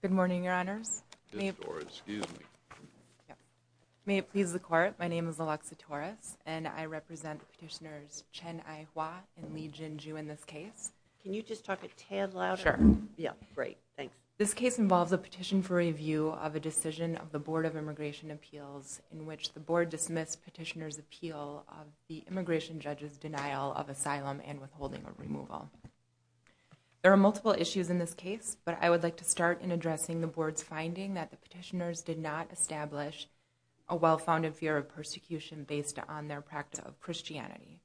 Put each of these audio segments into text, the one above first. Good morning, Your Honors. May it please the Court, my name is Alexa Torres and I represent Petitioners Chen Ai Hua and Li Jin Ju in this case. Can you just talk a tad louder? Sure. Yeah, great, thanks. This case involves a petition for review of a decision of the Board of Immigration Appeals in which the Board dismissed Petitioners' appeal of the immigration judge's denial of persecution. There are multiple issues in this case, but I would like to start in addressing the Board's finding that the petitioners did not establish a well-founded fear of persecution based on their practice of Christianity.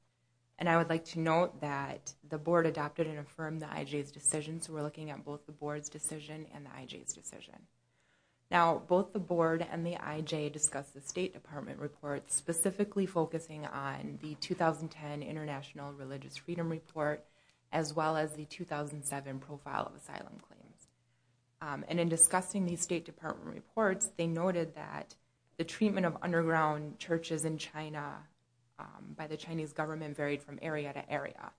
And I would like to note that the Board adopted and affirmed the IJ's decision, so we're looking at both the Board's decision and the IJ's decision. Now, both the Board and the IJ discussed the State Department report specifically focusing on the 2010 International Religious Freedom Report as well as the 2007 Profile of Asylum Claims. And in discussing these State Department reports, they noted that the treatment of underground churches in China by the Chinese government varied from area to area.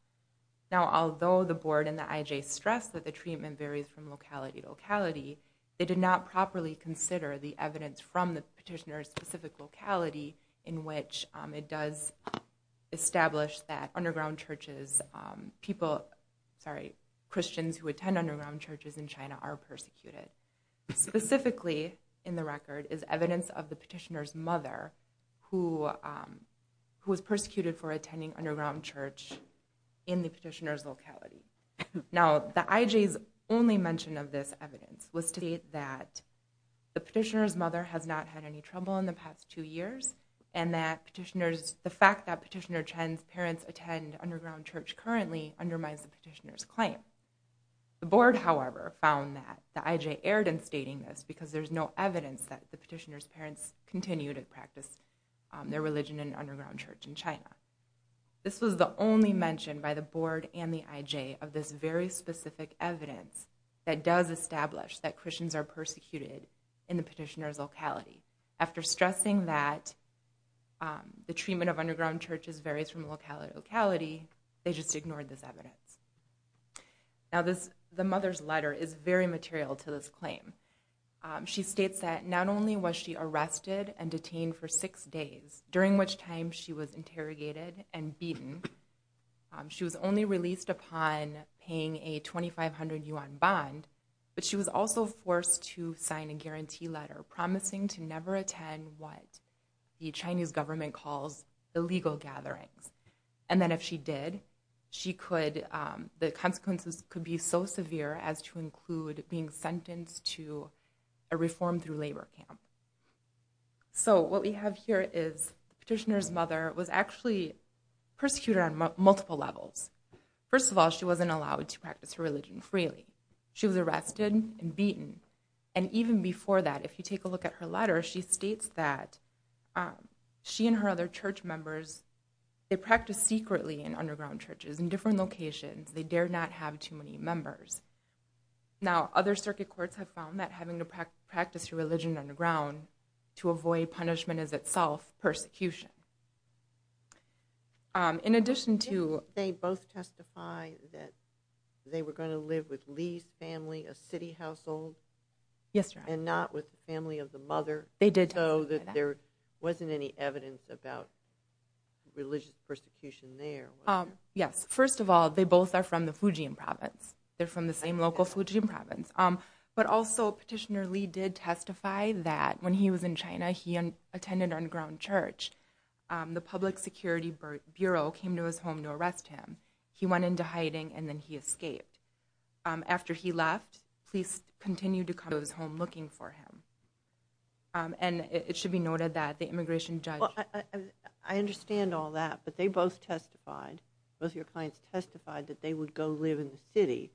Now although the Board and the IJ stressed that the treatment varies from locality to locality, they did not properly consider the evidence from the petitioner's specific locality in which it does establish that Christians who attend underground churches in China are persecuted. Specifically in the record is evidence of the petitioner's mother who was persecuted for attending underground church in the petitioner's locality. Now the IJ's only mention of this evidence was to state that the petitioner's mother has not had any trouble in the past two years and that petitioners, the fact that petitioner Chen's parents attend underground church currently undermines the petitioner's claim. The Board, however, found that the IJ erred in stating this because there's no evidence that the petitioner's parents continue to practice their religion in underground church in China. This was the only mention by the Board and the IJ of this very that Christians are persecuted in the petitioner's locality. After stressing that the treatment of underground churches varies from locality to locality, they just ignored this evidence. Now this, the mother's letter is very material to this claim. She states that not only was she arrested and detained for six days, during which time she was interrogated and beaten, she was only released upon paying a 2,500 yuan bond, but she was also forced to sign a guarantee letter promising to never attend what the Chinese government calls illegal gatherings. And then if she did, the consequences could be so severe as to include being sentenced to a reform through multiple levels. First of all, she wasn't allowed to practice her religion freely. She was arrested and beaten. And even before that, if you take a look at her letter, she states that she and her other church members, they practice secretly in underground churches in different locations. They dare not have too many members. Now other circuit courts have found that having to practice your religion underground to avoid punishment is itself persecution. They both testify that they were going to live with Li's family, a city household, and not with the family of the mother, so that there wasn't any evidence about religious persecution there. Yes, first of all, they both are from the Fujian province. They're from the same local Fujian province. But also, Petitioner Li did testify that when he was in China, he attended an underground church. The Public Security Bureau came to his home to arrest him. He went into hiding, and then he escaped. After he left, police continued to come to his home looking for him. And it should be noted that the immigration judge- Well, I understand all that, but they both testified, both of your clients testified, that they would go live in the city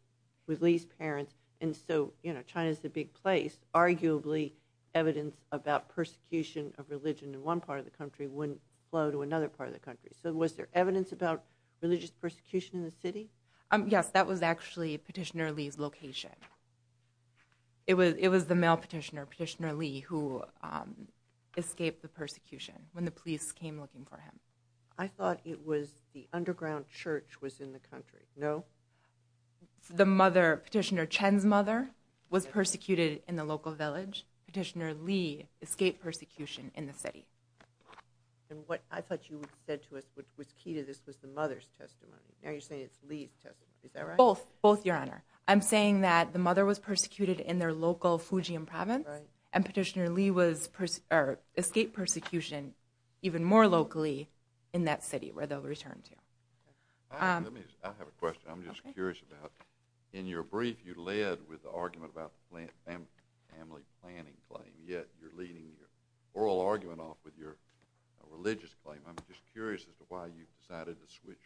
with Li's parents. And so, you know, China's a big place, arguably evidence about persecution of religion in one part of the country wouldn't flow to another part of the country. So was there evidence about religious persecution in the city? Yes, that was actually Petitioner Li's location. It was the male petitioner, Petitioner Li, who escaped the persecution when the police came looking for him. I thought it was the underground church was in the country, no? The mother, Petitioner Chen's mother, was persecuted in the local village. Petitioner Li escaped persecution in the city. And what I thought you said to us, which was key to this, was the mother's testimony. Now you're saying it's Li's testimony, is that right? Both, both, Your Honor. I'm saying that the mother was persecuted in their local Fujian province, and Petitioner Li escaped persecution even more locally in that city, where they'll return to. I have a question. I'm just curious about, in your brief, you led with the argument about the family planning claim, yet you're leading your oral argument off with your religious claim. I'm just curious as to why you decided to switch?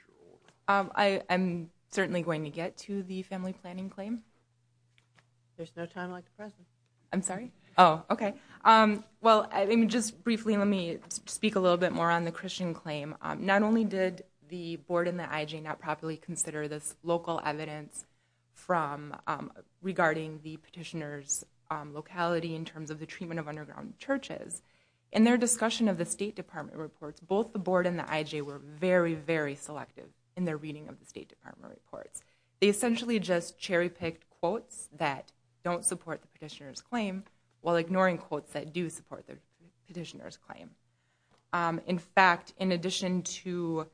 I am certainly going to get to the family planning claim. There's no time like the present. I'm sorry? Oh, okay. Well, I mean, let me speak a little bit more on the Christian claim. Not only did the board and the IJ not properly consider this local evidence regarding the petitioner's locality in terms of the treatment of underground churches, in their discussion of the State Department reports, both the board and the IJ were very, very selective in their reading of the State Department reports. They essentially just cherry-picked quotes that don't support the petitioner's claim, while ignoring quotes that do support the petitioner's claim. In fact, in addition to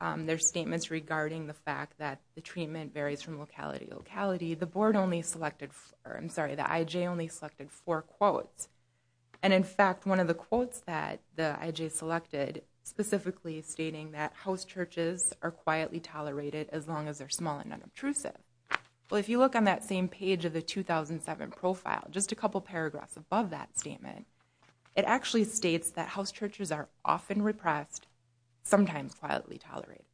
their statements regarding the fact that the treatment varies from locality to locality, the board only selected, I'm sorry, the IJ only selected four quotes. And in fact, one of the quotes that the IJ selected specifically stating that house churches are quietly tolerated as long as they're small and non-obtrusive. Well, if you look on that same page of the 2007 profile, just a couple paragraphs above that statement, it actually states that house churches are often repressed, sometimes quietly tolerated.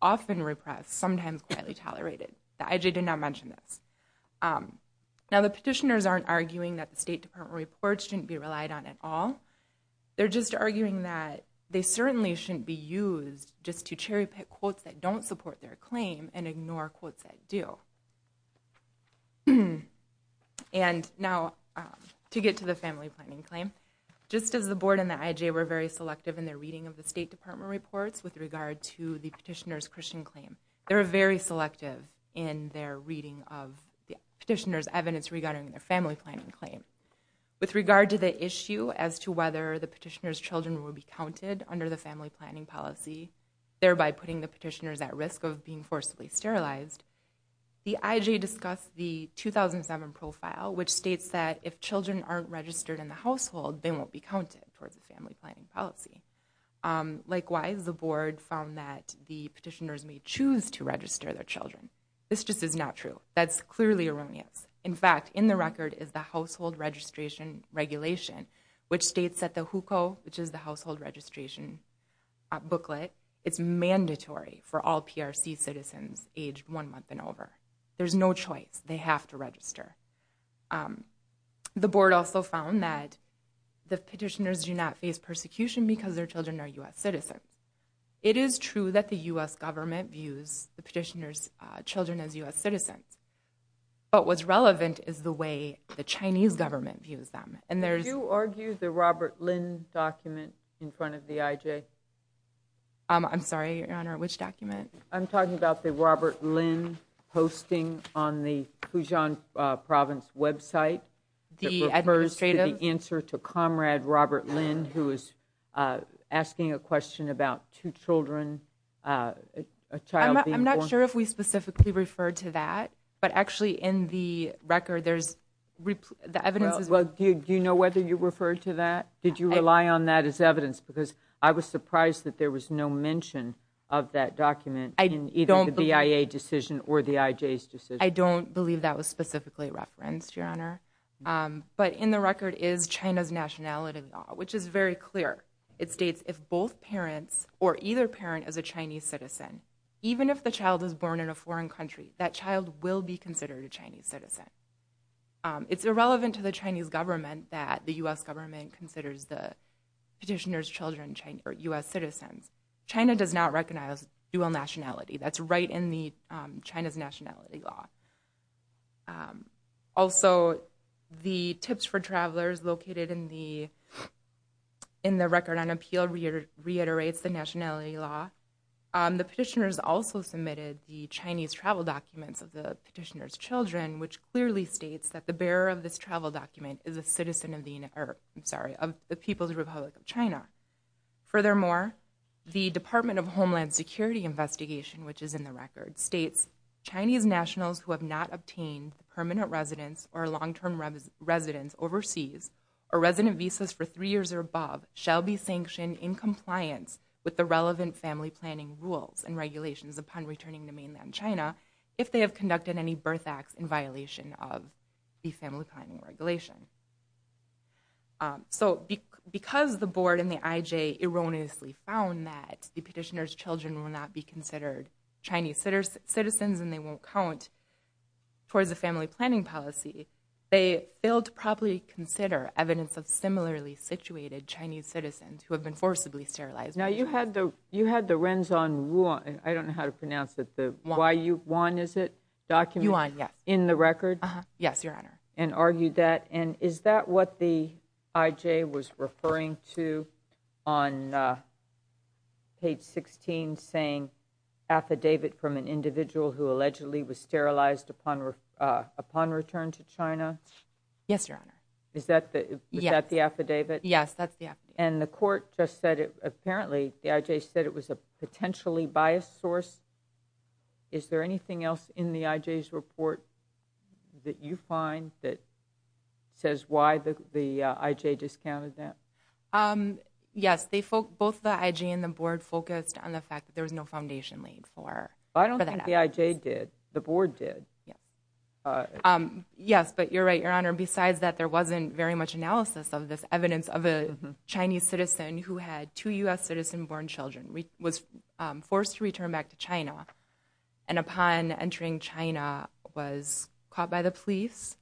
Often repressed, sometimes quietly tolerated. The IJ did not mention this. Now, the petitioners aren't arguing that the State Department reports shouldn't be relied on at all. They're just arguing that they certainly shouldn't be used just to cherry-pick quotes that don't support their claim and ignore quotes that do. And now, to get to the family planning claim, just as the board and the IJ were very selective in their reading of the State Department reports with regard to the petitioner's Christian claim, they were very selective in their reading of the petitioner's evidence regarding their family planning claim. With regard to the issue as to whether the petitioner's children will be counted under the family planning policy, thereby putting the petitioners at risk of being forcibly sterilized, the IJ discussed the 2007 profile, which states that if children aren't registered in the household, they won't be counted towards the family planning policy. Likewise, the board found that the petitioners may choose to register their children. This just is not true. That's clearly erroneous. In fact, in the record is the household registration regulation, which states that the HUCO, which is the household registration booklet, it's mandatory for all PRC citizens aged one month and over. There's no choice. They have to register. The board also found that the petitioners do not face persecution because their children are U.S. citizens. It is true that the U.S. government views the petitioner's children as U.S. citizens, but what's relevant is the way the Chinese government views them. Do you argue the Robert Lin document in front of the IJ? I'm sorry, Your Honor, which document? I'm talking about the Robert Lin posting on the Pujan Province website. The administrative? The answer to Comrade Robert Lin, who is asking a question about two children, a child being born. I'm not sure if we specifically refer to that, but actually in the record, there's the evidence. Do you know whether you referred to that? Did you rely on that as evidence? Because I was surprised that there was no mention of that document in either the BIA decision or the IJ's decision. I don't believe that was specifically referenced, Your Honor, but in the record is China's nationality law, which is very clear. It states if both parents or either parent is a Chinese citizen, even if the child is born in a foreign country, that child will be considered a Chinese citizen. It's irrelevant to the Chinese government that the U.S. government considers the petitioner's children U.S. citizens. China does not recognize dual nationality. That's right in China's nationality law. Also, the tips for travelers located in the record on appeal reiterates the nationality law. The petitioners also submitted the Chinese travel documents of the petitioner's children, which clearly states that the bearer of this travel document is a citizen of the, I'm sorry, of the People's Republic of China. Furthermore, the Department of Homeland Security investigation, which is in the record, states Chinese nationals who have not obtained permanent residence or long-term residence overseas or resident visas for three years or above shall be sanctioned in compliance with the relevant family planning rules and regulations upon returning to mainland China if they have conducted any birth acts in violation of the family planning regulation. So because the board and the IJ erroneously found that the petitioner's children will not be considered Chinese citizens and they won't count towards the family planning policy, they failed to properly consider evidence of similarly situated Chinese citizens who have been forcibly sterilized. Now, you had the, you had the Renzong Wuan, I don't know how to pronounce it, the, why you, Wan is it? Document? Wuan, yes. In the record? Yes, Your Honor. And argued that, and is that what the IJ was referring to on page 16 saying affidavit from an individual who allegedly was sterilized upon, upon return to China? Yes, Your Honor. Is that the, is that the affidavit? Yes, that's the affidavit. And the court just said it, apparently the IJ said it was a potentially biased source. Is there anything else in the IJ's report that you find that says why the, the IJ discounted that? Yes, they, both the IJ and the board focused on the fact that there was no foundation laid for. I don't think the IJ did, the board did. Yes, but you're right, Your Honor, besides that there wasn't very much analysis of this Chinese citizen who had two U.S. citizen-born children, was forced to return back to China, and upon entering China was caught by the police.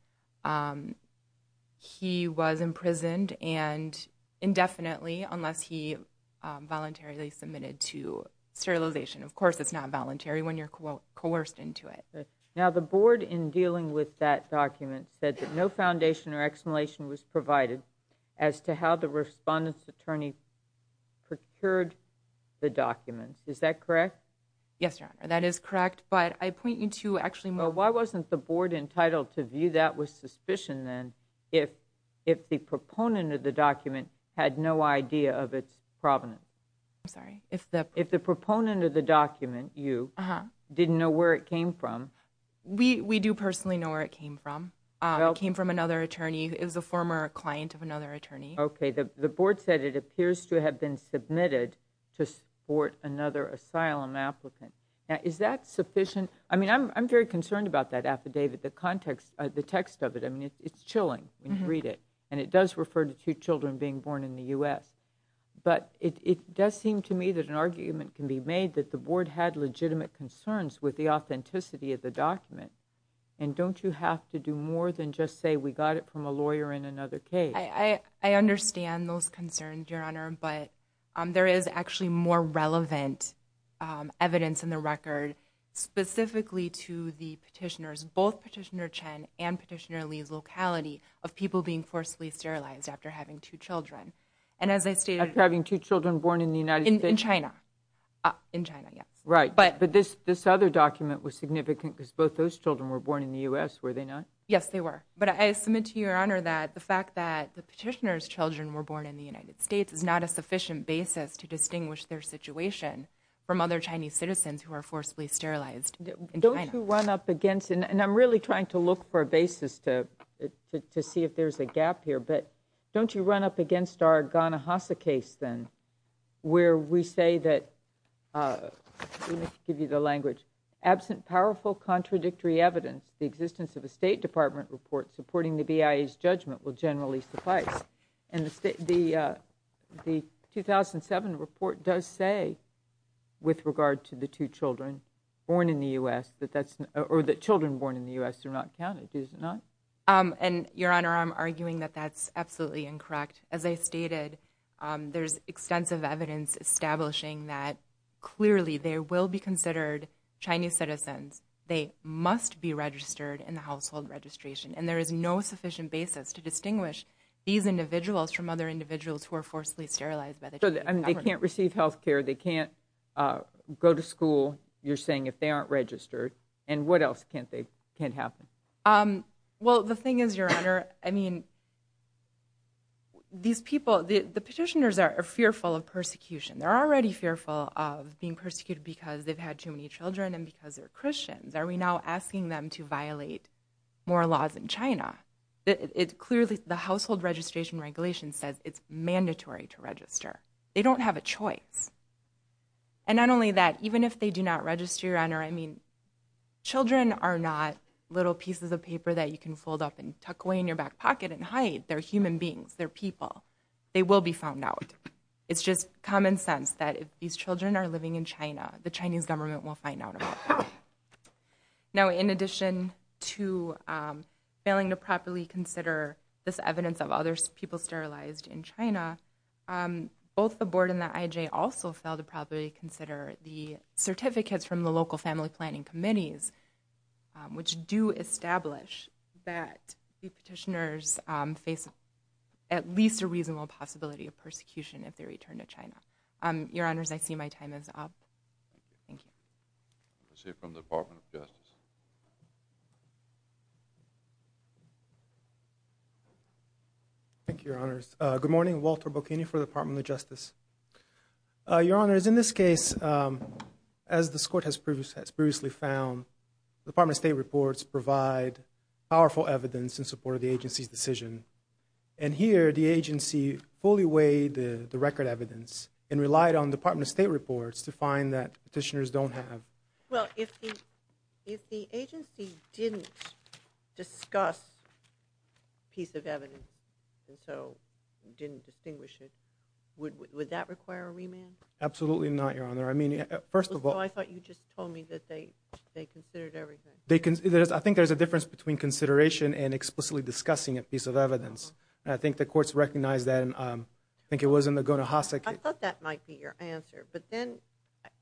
He was imprisoned and indefinitely unless he voluntarily submitted to sterilization. Of course, it's not voluntary when you're coerced into it. Now, the board in dealing with that document said that no foundation or explanation was obtained, and that the Chinese attorney procured the documents, is that correct? Yes, Your Honor, that is correct, but I point you to actually more... Why wasn't the board entitled to view that with suspicion then, if, if the proponent of the document had no idea of its provenance? I'm sorry, if the... If the proponent of the document, you, didn't know where it came from. We, we do personally know where it came from. It came from another attorney who is a former client of another attorney. Okay, the, the board said it appears to have been submitted to support another asylum applicant. Now, is that sufficient? I mean, I'm, I'm very concerned about that affidavit, the context, the text of it. I mean, it's, it's chilling when you read it, and it does refer to two children being born in the U.S., but it, it does seem to me that an argument can be made that the board had legitimate concerns with the authenticity of the document, and don't you have to do more than just say we got it from a lawyer in another case? I, I understand those concerns, Your Honor, but there is actually more relevant evidence in the record specifically to the petitioners, both Petitioner Chen and Petitioner Lee's locality of people being forcibly sterilized after having two children. And as I stated... After having two children born in the United States? In China, in China, yes. Right, but this, this other document was significant because both those children were born in the U.S., were they not? Yes, they were, but I submit to Your Honor that the fact that the petitioner's children were born in the United States is not a sufficient basis to distinguish their situation from other Chinese citizens who are forcibly sterilized in China. Don't you run up against, and I'm really trying to look for a basis to, to see if there's a gap here, but don't you run up against our Ghana-Hassa case then, where we say that, let me give you the language, absent powerful contradictory evidence, the existence of a State Department report supporting the BIA's judgment will generally suffice. And the, the, the 2007 report does say, with regard to the two children born in the U.S., that that's, or that children born in the U.S. are not counted, is it not? And Your Honor, I'm arguing that that's absolutely incorrect. As I stated, there's extensive evidence establishing that clearly there will be considered Chinese citizens. They must be registered in the household registration, and there is no sufficient basis to distinguish these individuals from other individuals who are forcibly sterilized. But they can't receive health care. They can't go to school, you're saying, if they aren't registered. And what else can't they, can't happen? Well, the thing is, Your Honor, I mean, these people, the petitioners are fearful of persecution. They're already fearful of being persecuted because they've had too many children and because they're Christians. Are we now asking them to violate more laws in China? It clearly, the household registration regulation says it's mandatory to register. They don't have a choice. And not only that, even if they do not register, Your Honor, I mean, children are not little pieces of paper that you can fold up and tuck away in your back pocket and hide. They're human beings. They're people. They will be found out. It's just common sense that if these children are living in China, the Chinese government will find out about that. Now, in addition to failing to properly consider this evidence of other people sterilized in China, both the board and the IJ also failed to properly consider the certificates from the local family planning committees, which do establish that the petitioners face at least a reasonable possibility of persecution if they return to China. Your Honors, I see my time is up. Thank you. Let's hear from the Department of Justice. Thank you, Your Honors. Good morning. Walter Bocchini for the Department of Justice. Your Honors, in this case, as this Court has previously found, the Department of State reports provide powerful evidence in support of the agency's decision. And here, the agency fully weighed the record evidence and relied on Department of State reports to find that petitioners don't have. Well, if the agency didn't discuss a piece of evidence and so didn't distinguish it, would that require a remand? Absolutely not, Your Honor. I mean, first of all— So I thought you just told me that they considered everything. I think there's a difference between consideration and explicitly discussing a piece of evidence. I think the courts recognize that. And I think it was in the Guna Hasek— I thought that might be your answer. But then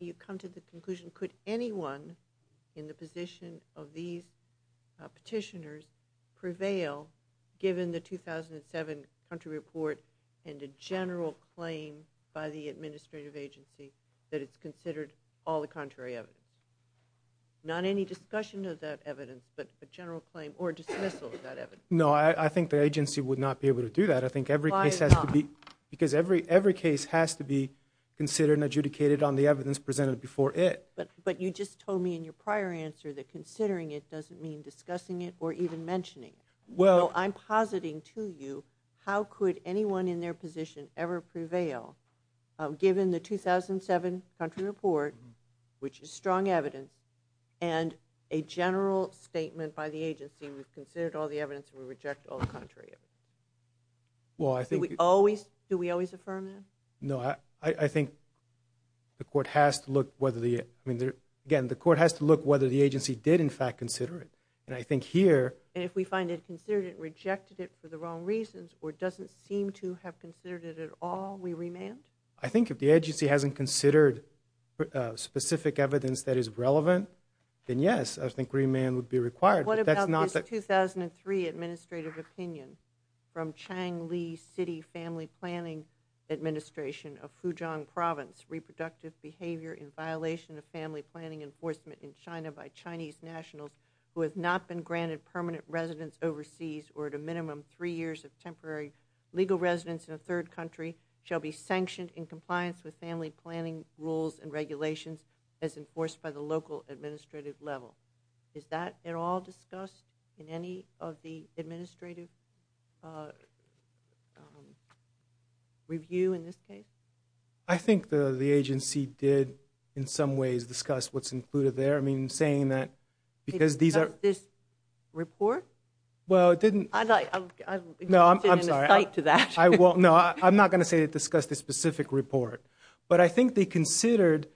you come to the conclusion, could anyone in the position of these petitioners prevail given the 2007 country report and a general claim by the administrative agency that it's considered all the contrary evidence? Not any discussion of that evidence, but a general claim or dismissal of that evidence. No, I think the agency would not be able to do that. I think every case has to be— Why not? Because every case has to be considered and adjudicated on the evidence presented before it. But you just told me in your prior answer that considering it doesn't mean discussing it or even mentioning it. Well— So I'm positing to you, how could anyone in their position ever prevail given the 2007 country report, which is strong evidence, and a general statement by the agency, we've rejected all the contrary evidence? Well, I think— Do we always affirm that? No, I think the court has to look whether the—I mean, again, the court has to look whether the agency did in fact consider it. And I think here— And if we find it considered and rejected it for the wrong reasons or doesn't seem to have considered it at all, we remand? I think if the agency hasn't considered specific evidence that is relevant, then yes, I think remand would be required. What about this 2003 administrative opinion from Chang Li City Family Planning Administration of Fujiang Province? Reproductive behavior in violation of family planning enforcement in China by Chinese nationals who have not been granted permanent residence overseas or at a minimum three years of temporary legal residence in a third country shall be sanctioned in compliance with family planning rules and regulations as enforced by the local administrative level. Is that at all discussed in any of the administrative review in this case? I think the agency did in some ways discuss what's included there. I mean, saying that because these are— Discussed this report? Well, it didn't— No, I'm sorry. I'm sitting in a site to that. I won't. No, I'm not going to say it discussed the specific report. But I think they considered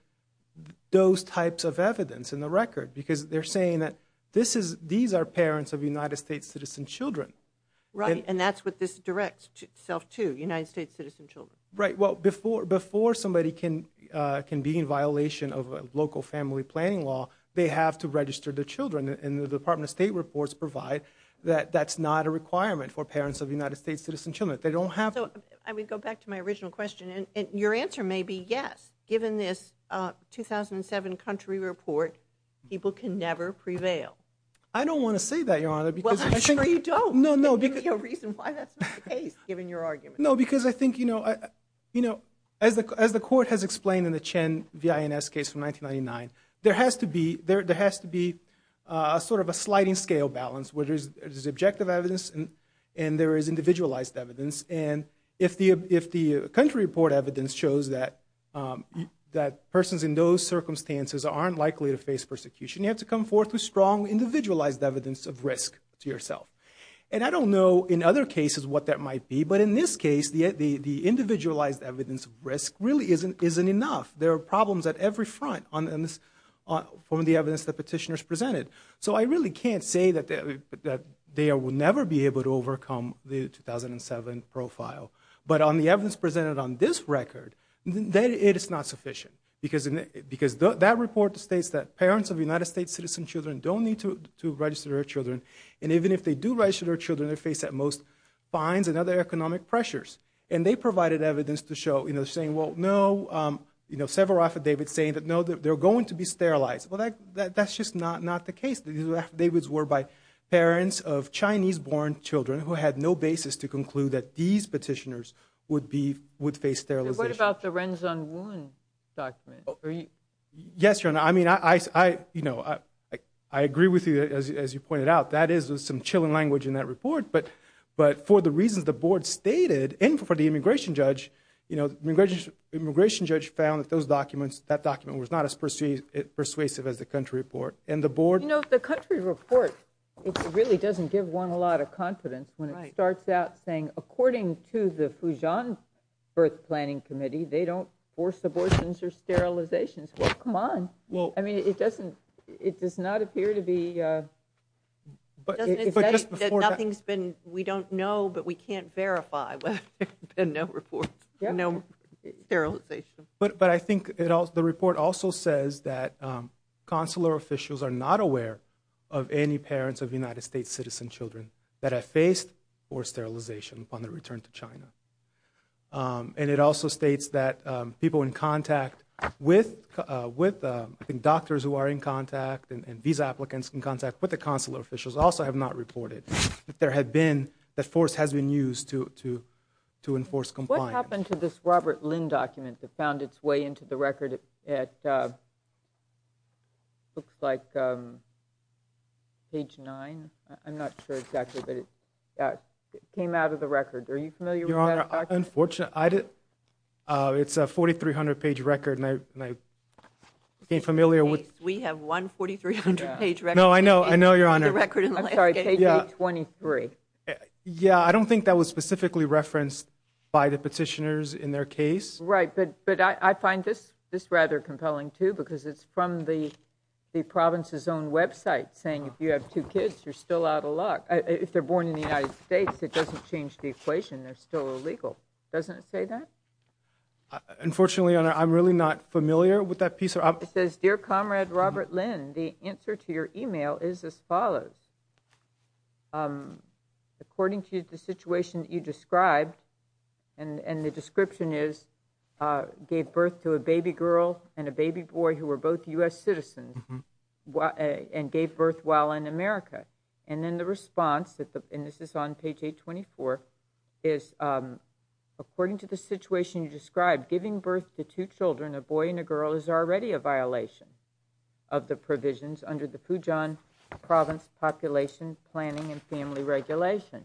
those types of evidence in the record because they're saying that this is— These are parents of United States citizen children. Right, and that's what this directs itself to, United States citizen children. Right. Well, before somebody can be in violation of local family planning law, they have to register their children, and the Department of State reports provide that that's not a requirement for parents of United States citizen children. They don't have— I would go back to my original question, and your answer may be yes, given this 2007 country report, people can never prevail. I don't want to say that, Your Honor, because— Well, I'm sure you don't. No, no. There's no reason why that's not the case, given your argument. No, because I think, you know, as the court has explained in the Chen V.I.N.S. case from 1999, there has to be sort of a sliding scale balance where there's objective evidence and there is individualized evidence, and if the country report evidence shows that persons in those circumstances aren't likely to face persecution, you have to come forth with strong individualized evidence of risk to yourself, and I don't know in other cases what that might be, but in this case, the individualized evidence of risk really isn't enough. There are problems at every front from the evidence the petitioners presented, so I really can't say that they will never be able to overcome the 2007 profile, but on the evidence presented on this record, it is not sufficient, because that report states that parents of United States citizen children don't need to register their children, and even if they do register their children, they face at most fines and other economic pressures, and they provided evidence to show, you know, saying, well, no, you know, several affidavits saying that, no, they're going to be sterilized. That's just not the case. The affidavits were by parents of Chinese-born children who had no basis to conclude that these petitioners would face sterilization. And what about the Ren Zun Wu document? Yes, Your Honor, I mean, I agree with you, as you pointed out, that is some chilling language in that report, but for the reasons the board stated, and for the immigration judge, you know, the immigration judge found that those documents, that document was not persuasive as the country report, and the board You know, the country report, it really doesn't give one a lot of confidence when it starts out saying, according to the Fujian birth planning committee, they don't force abortions or sterilizations. Well, come on. Well, I mean, it doesn't, it does not appear to be But nothing's been, we don't know, but we can't verify whether there's been no reports, no sterilization. But I think the report also says that consular officials are not aware of any parents of United States citizen children that have faced forced sterilization upon their return to China. And it also states that people in contact with doctors who are in contact and visa applicants in contact with the consular officials also have not reported that there had been, that force has been used to enforce compliance. What happened to this Robert Lin document that found its way into the record? It looks like page nine. I'm not sure exactly, but it came out of the record. Are you familiar with that document? Unfortunately, I did. It's a 4,300 page record, and I became familiar with We have one 4,300 page record No, I know. I know, Your Honor. I'm sorry, page 823. Yeah, I don't think that was specifically referenced by the petitioners in their case. Right, but I find this rather compelling, too, because it's from the province's own website saying if you have two kids, you're still out of luck. If they're born in the United States, it doesn't change the equation. They're still illegal. Doesn't it say that? Unfortunately, Your Honor, I'm really not familiar with that piece. It says, Dear Comrade Robert Lin, the answer to your email is as follows. According to the situation that you described, and the description is, gave birth to a baby girl and a baby boy who were both U.S. citizens and gave birth while in America. And then the response, and this is on page 824, is according to the situation you described, giving birth to two children, a boy and a girl, is already a violation of the provisions under the Pujan Province Population Planning and Family Regulation.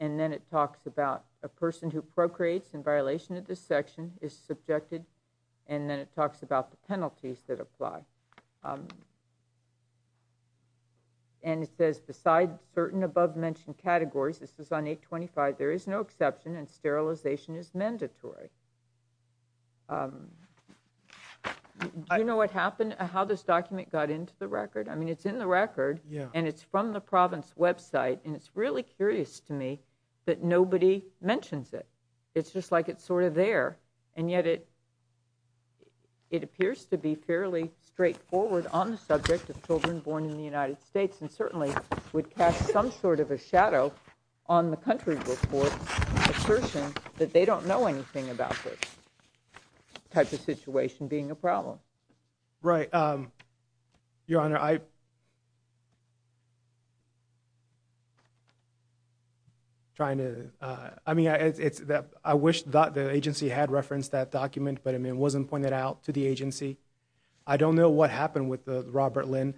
And then it talks about a person who procreates in violation of this section is subjected, and then it talks about the penalties that apply. And it says, beside certain above-mentioned categories, this is on 825, there is no exception and sterilization is mandatory. Do you know what happened? How this document got into the record? I mean, it's in the record, and it's from the province website, and it's really curious to me that nobody mentions it. It's just like it's sort of there, and yet it appears to be fairly straightforward on the subject of children born in the United States, and certainly would cast some sort of a shadow on the country's report, assertion that they don't know anything about this type of situation being a problem. Right, Your Honor, I wish the agency had referenced that document, but it wasn't pointed out to the agency. I don't know what happened with Robert Lynn,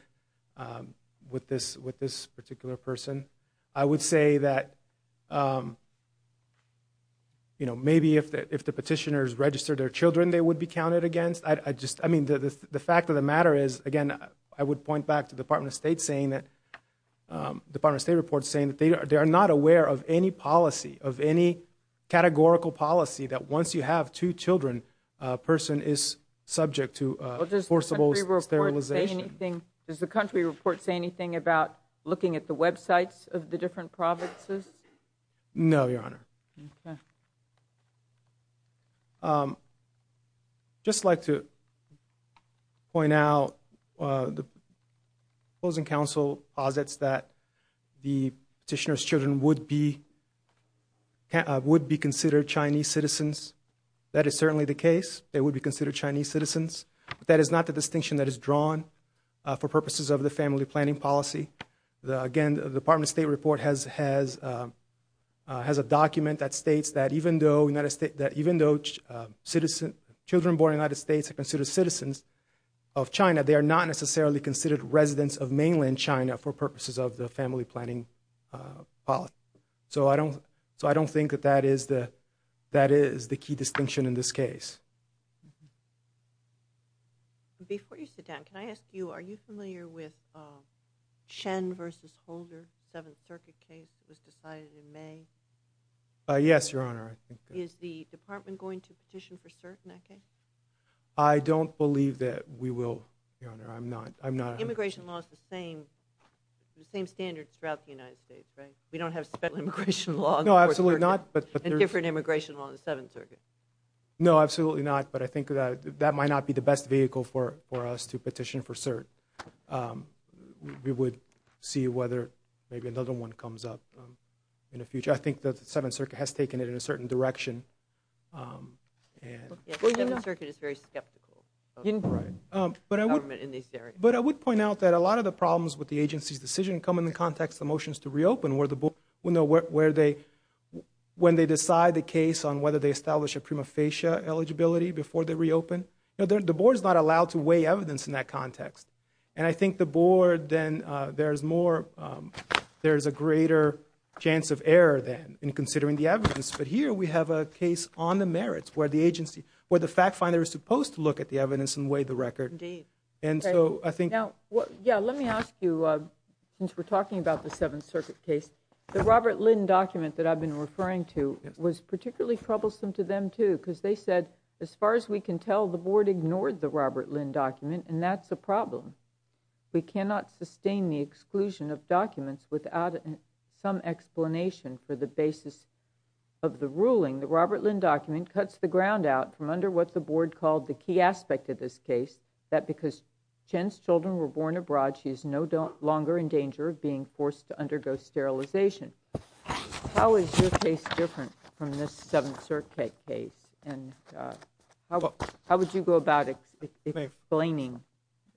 with this particular person. I would say that maybe if the petitioners registered their children, they would be counted against. I just, I mean, the fact of the matter is, again, I would point back to the Department of State saying that, the Department of State report saying that they are not aware of any policy, of any categorical policy that once you have two children, a person is subject to forcible sterilization. Does the country report say anything about looking at the websites of the different provinces? No, Your Honor. Okay. Just like to point out, the opposing counsel posits that the petitioner's children would be, would be considered Chinese citizens. That is certainly the case. They would be considered Chinese citizens, but that is not the distinction that is drawn for purposes of the family planning policy. Again, the Department of State report has, has, has a document that states that even though United States, that even though citizen, children born in the United States are considered citizens of China, they are not necessarily considered residents of mainland China for purposes of the family planning policy. So I don't, so I don't think that that is the, that is the key distinction in this case. Before you sit down, can I ask you, are you familiar with Shen v. Holder, Seventh Circuit case that was decided in May? Yes, Your Honor. Is the department going to petition for cert in that case? I don't believe that we will, Your Honor, I'm not, I'm not. Immigration law is the same, the same standards throughout the United States, right? We don't have special immigration law on the Fourth Circuit. No, absolutely not. And different immigration law on the Seventh Circuit. No, absolutely not, but I think that, that might not be the best vehicle for, for us to petition for cert. We, we would see whether maybe another one comes up in the future. I think that the Seventh Circuit has taken it in a certain direction and... The Seventh Circuit is very skeptical of government in these areas. But I would, but I would point out that a lot of the problems with the agency's decision come in the context of motions to reopen where the, you know, where they, when they decide the case on whether they establish a prima facie eligibility before they reopen. You know, the, the board's not allowed to weigh evidence in that context. And I think the board then, there's more, there's a greater chance of error then in considering the evidence. But here we have a case on the merits where the agency, where the fact finder is supposed to look at the evidence and weigh the record. Indeed. And so I think... Now, yeah, let me ask you, since we're talking about the Seventh Circuit case, the Robert troublesome to them too, because they said, as far as we can tell, the board ignored the Robert Lynn document, and that's a problem. We cannot sustain the exclusion of documents without some explanation for the basis of the ruling. The Robert Lynn document cuts the ground out from under what the board called the key aspect of this case, that because Chen's children were born abroad, she is no longer in danger of being forced to undergo sterilization. How is your case different from this Seventh Circuit case? And how, how would you go about explaining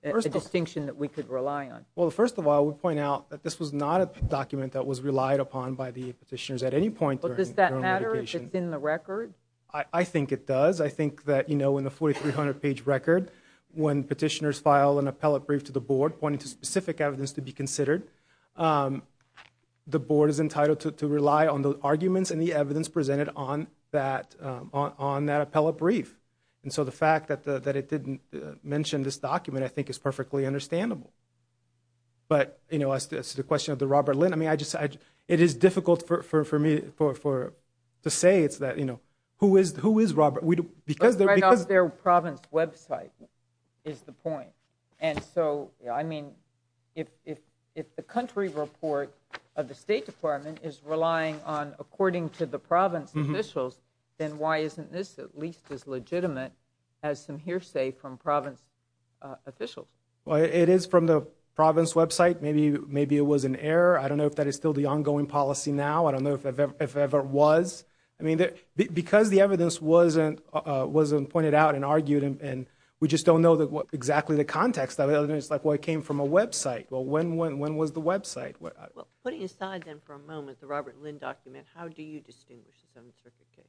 a distinction that we could rely on? Well, first of all, we point out that this was not a document that was relied upon by the petitioners at any point. But does that matter if it's in the record? I think it does. I think that, you know, in the 4300 page record, when petitioners file an appellate brief to the board pointing to specific evidence to be considered, the board is entitled to rely on the arguments and the evidence presented on that, on that appellate brief. And so the fact that it didn't mention this document, I think is perfectly understandable. But, you know, as to the question of the Robert Lynn, I mean, I just, it is difficult for me to say it's that, you know, who is, who is Robert? Because their province website is the point. And so, I mean, if, if, if the country report of the State Department is relying on according to the province officials, then why isn't this at least as legitimate as some hearsay from province officials? Well, it is from the province website. Maybe, maybe it was an error. I don't know if that is still the ongoing policy now. I don't know if it ever was. I mean, because the evidence wasn't, wasn't pointed out and argued, and we just don't know exactly the context of it. It's like, well, it came from a website. Well, when, when, when was the website? Well, putting aside then for a moment the Robert Lynn document, how do you distinguish the Seventh Circuit case?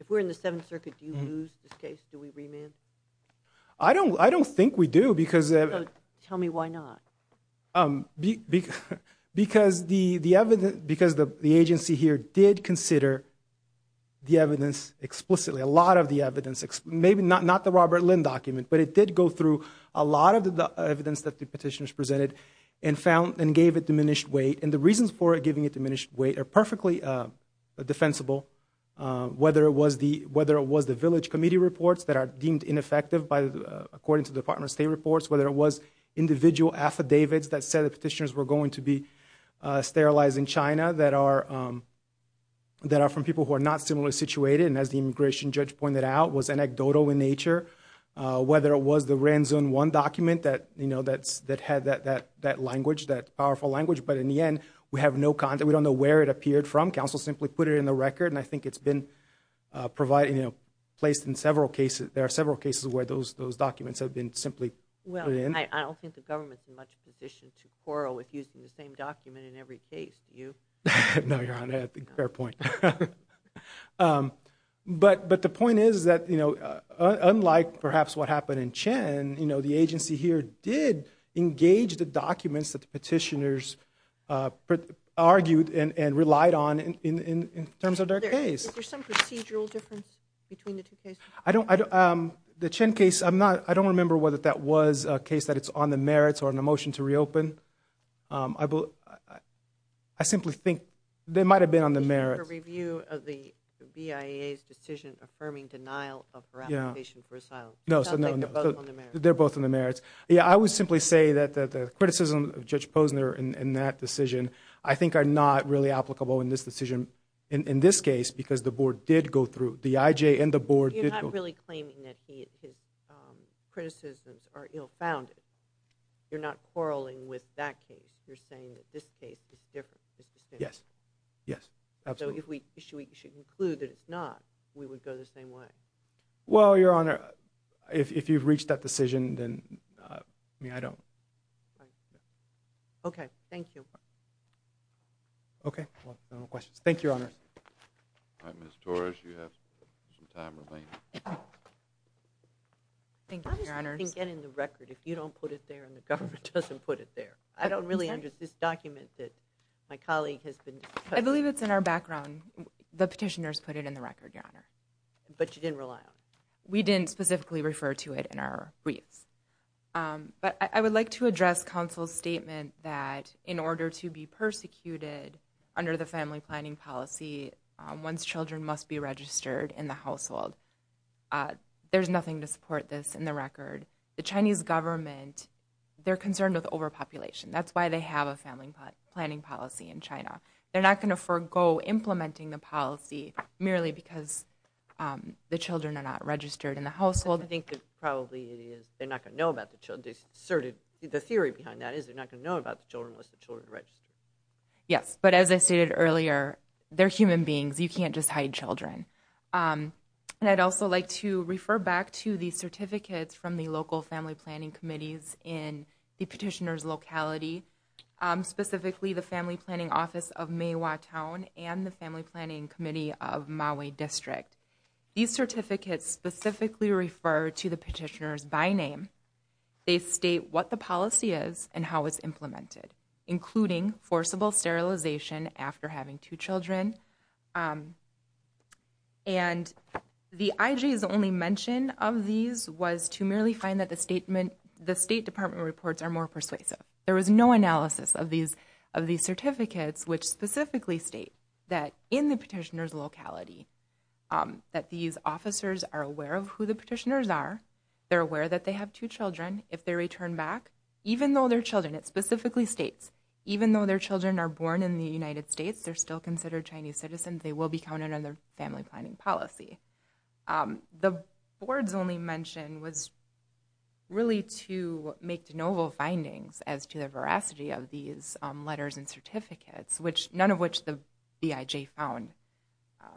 If we're in the Seventh Circuit, do you lose this case? Do we remand? I don't, I don't think we do because. Tell me why not. Um, because the, the evidence, because the agency here did consider the evidence explicitly, a lot of the evidence, maybe not, not the Robert Lynn document, but it did go through a lot of the evidence that the petitioners presented and found and gave it diminished weight. And the reasons for giving it diminished weight are perfectly defensible. Whether it was the, whether it was the village committee reports that are deemed ineffective by the, according to the Department of State reports. Whether it was individual affidavits that said the petitioners were going to be sterilized in China that are, um, that are from people who are not similarly situated. And as the immigration judge pointed out, was anecdotal in nature. Whether it was the Ranzone 1 document that, you know, that's, that had that, that, that language, that powerful language. But in the end, we have no content. We don't know where it appeared from. Counsel simply put it in the record. And I think it's been provided, you know, placed in several cases. There are several cases where those, those documents have been simply put in. Well, I don't think the government's in much position to quarrel with using the same document in every case. Do you? No, Your Honor, fair point. Um, but, but the point is that, you know, unlike perhaps what happened in Chen, you know, the agency here did engage the documents that the petitioners, uh, put, argued and, and relied on in, in, in terms of their case. Is there some procedural difference between the two cases? I don't, I don't, um, the Chen case, I'm not, I don't remember whether that was a case that it's on the merits or on the motion to reopen. Um, I believe, I simply think they might have been on the merits. The review of the BIA's decision affirming denial of her application for asylum. No, so no, they're both on the merits. Yeah, I would simply say that, that the criticism of Judge Posner in, in that decision, I think are not really applicable in this decision, in, in this case, because the board did go through, the IJ and the board did. I'm not really claiming that he, his, um, criticisms are ill founded. You're not quarreling with that case. You're saying that this case is different, this decision. Yes, yes, absolutely. So if we should, we should conclude that it's not, we would go the same way. Well, Your Honor, if, if you've reached that decision, then, uh, I mean, I don't. Okay, thank you. Okay, well, no more questions. Thank you, Your Honor. All right, Ms. Torres, you have some time remaining. Thank you, Your Honor. How does that thing get in the record if you don't put it there and the government doesn't put it there? I don't really understand. This document that my colleague has been. I believe it's in our background. The petitioners put it in the record, Your Honor. But you didn't rely on it. We didn't specifically refer to it in our briefs. But I would like to address counsel's statement that in order to be persecuted under the family planning policy, one's children must be registered in the household. There's nothing to support this in the record. The Chinese government, they're concerned with overpopulation. That's why they have a family planning policy in China. They're not going to forego implementing the policy merely because the children are not registered in the household. I think that probably it is. They're not going to know about the children. They sort of, the theory behind that is they're not going to know about the children unless the children are registered. Yes, but as I stated earlier, they're human beings. You can't just hide children. And I'd also like to refer back to the certificates from the local family planning committees in the petitioner's locality, specifically the family planning office of May Wah Town and the family planning committee of Maui District. These certificates specifically refer to the petitioner's by name. They state what the policy is and how it's implemented, including forcible sterilization after having two children. And the IG's only mention of these was to merely find that the state department reports are more persuasive. There was no analysis of these certificates, which specifically state that in the petitioner's locality that these officers are aware of who the petitioners are. They're aware that they have two children. If they return back, even though they're children, it specifically states, even though their children are born in the United States, they're still considered Chinese citizens, they will be counted under family planning policy. The board's only mention was really to make de novo findings as to the veracity of these letters and certificates, which none of which the BIJ found.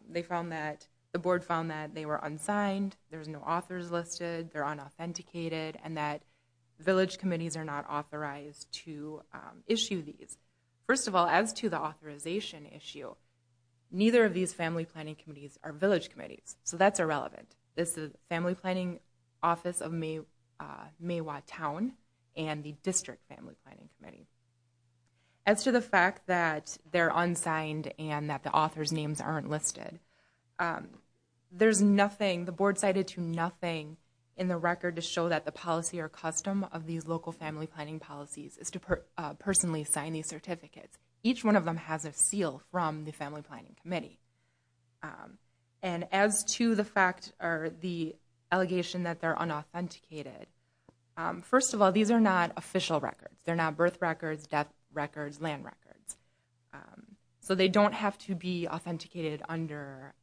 They found that the board found that they were unsigned. There's no authors listed. They're unauthenticated. And that village committees are not authorized to issue these. First of all, as to the authorization issue, neither of these family planning committees are village committees. So that's irrelevant. This is the Family Planning Office of Maywa Town and the District Family Planning Committee. As to the fact that they're unsigned and that the author's names aren't listed, there's nothing, the board cited to nothing in the record to show that the policy or custom of these local family planning policies is to personally sign these certificates. Each one of them has a seal from the Family Planning Committee. And as to the fact or the allegation that they're unauthenticated, first of all, these are not official records. They're not birth records, death records, land records. Um, so they don't have to be authenticated under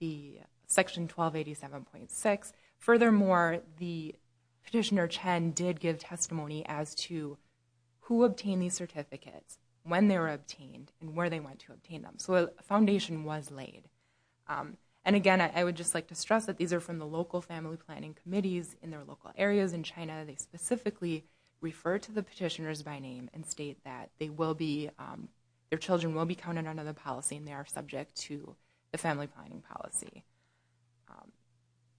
the section 1287.6. Furthermore, the petitioner Chen did give testimony as to who obtained these certificates, when they were obtained, and where they went to obtain them. So a foundation was laid. And again, I would just like to stress that these are from the local family planning committees in their local areas in China. They specifically refer to the petitioners by name and state that they will be, their children will be counted under the policy and they are subject to the family planning policy.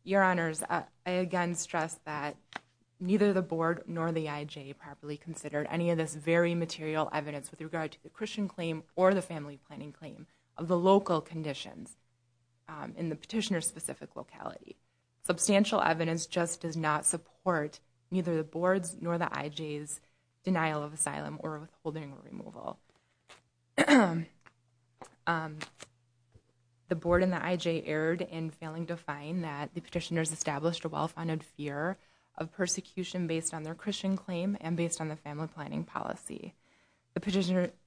Your honors, I again stress that neither the board nor the IJ properly considered any of this very material evidence with regard to the Christian claim or the family planning claim of the local conditions in the petitioner's specific locality. Substantial evidence just does not support neither the board's nor the IJ's denial of asylum or withholding removal. The board and the IJ erred in failing to find that the petitioners established a well-founded fear of persecution based on their Christian claim and based on the family planning policy. The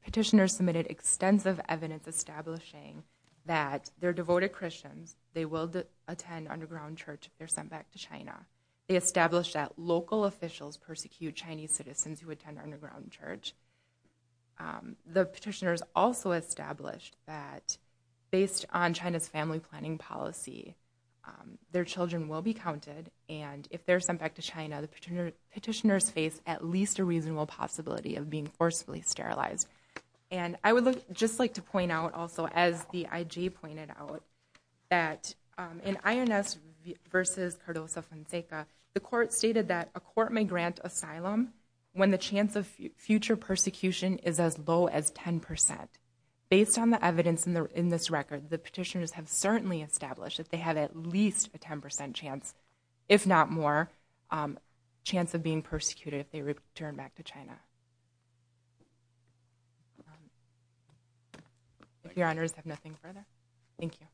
petitioner submitted extensive evidence establishing that they're devoted Christians, they will attend underground church if they're sent back to China. They established that local officials persecute Chinese citizens who attend underground church. The petitioners also established that based on China's family planning policy, their children will be counted and if they're sent back to China, the petitioners face at least a reasonable possibility of being forcibly sterilized. And I would just like to point out also as the IJ pointed out that in INS versus Cardoso-Fonseca, the court stated that a court may grant asylum when the chance of future persecution is as low as 10%. Based on the evidence in this record, the petitioners have certainly established that they have at least a 10% chance, if not more, chance of being persecuted if they return back to China. If your honors have nothing further, thank you.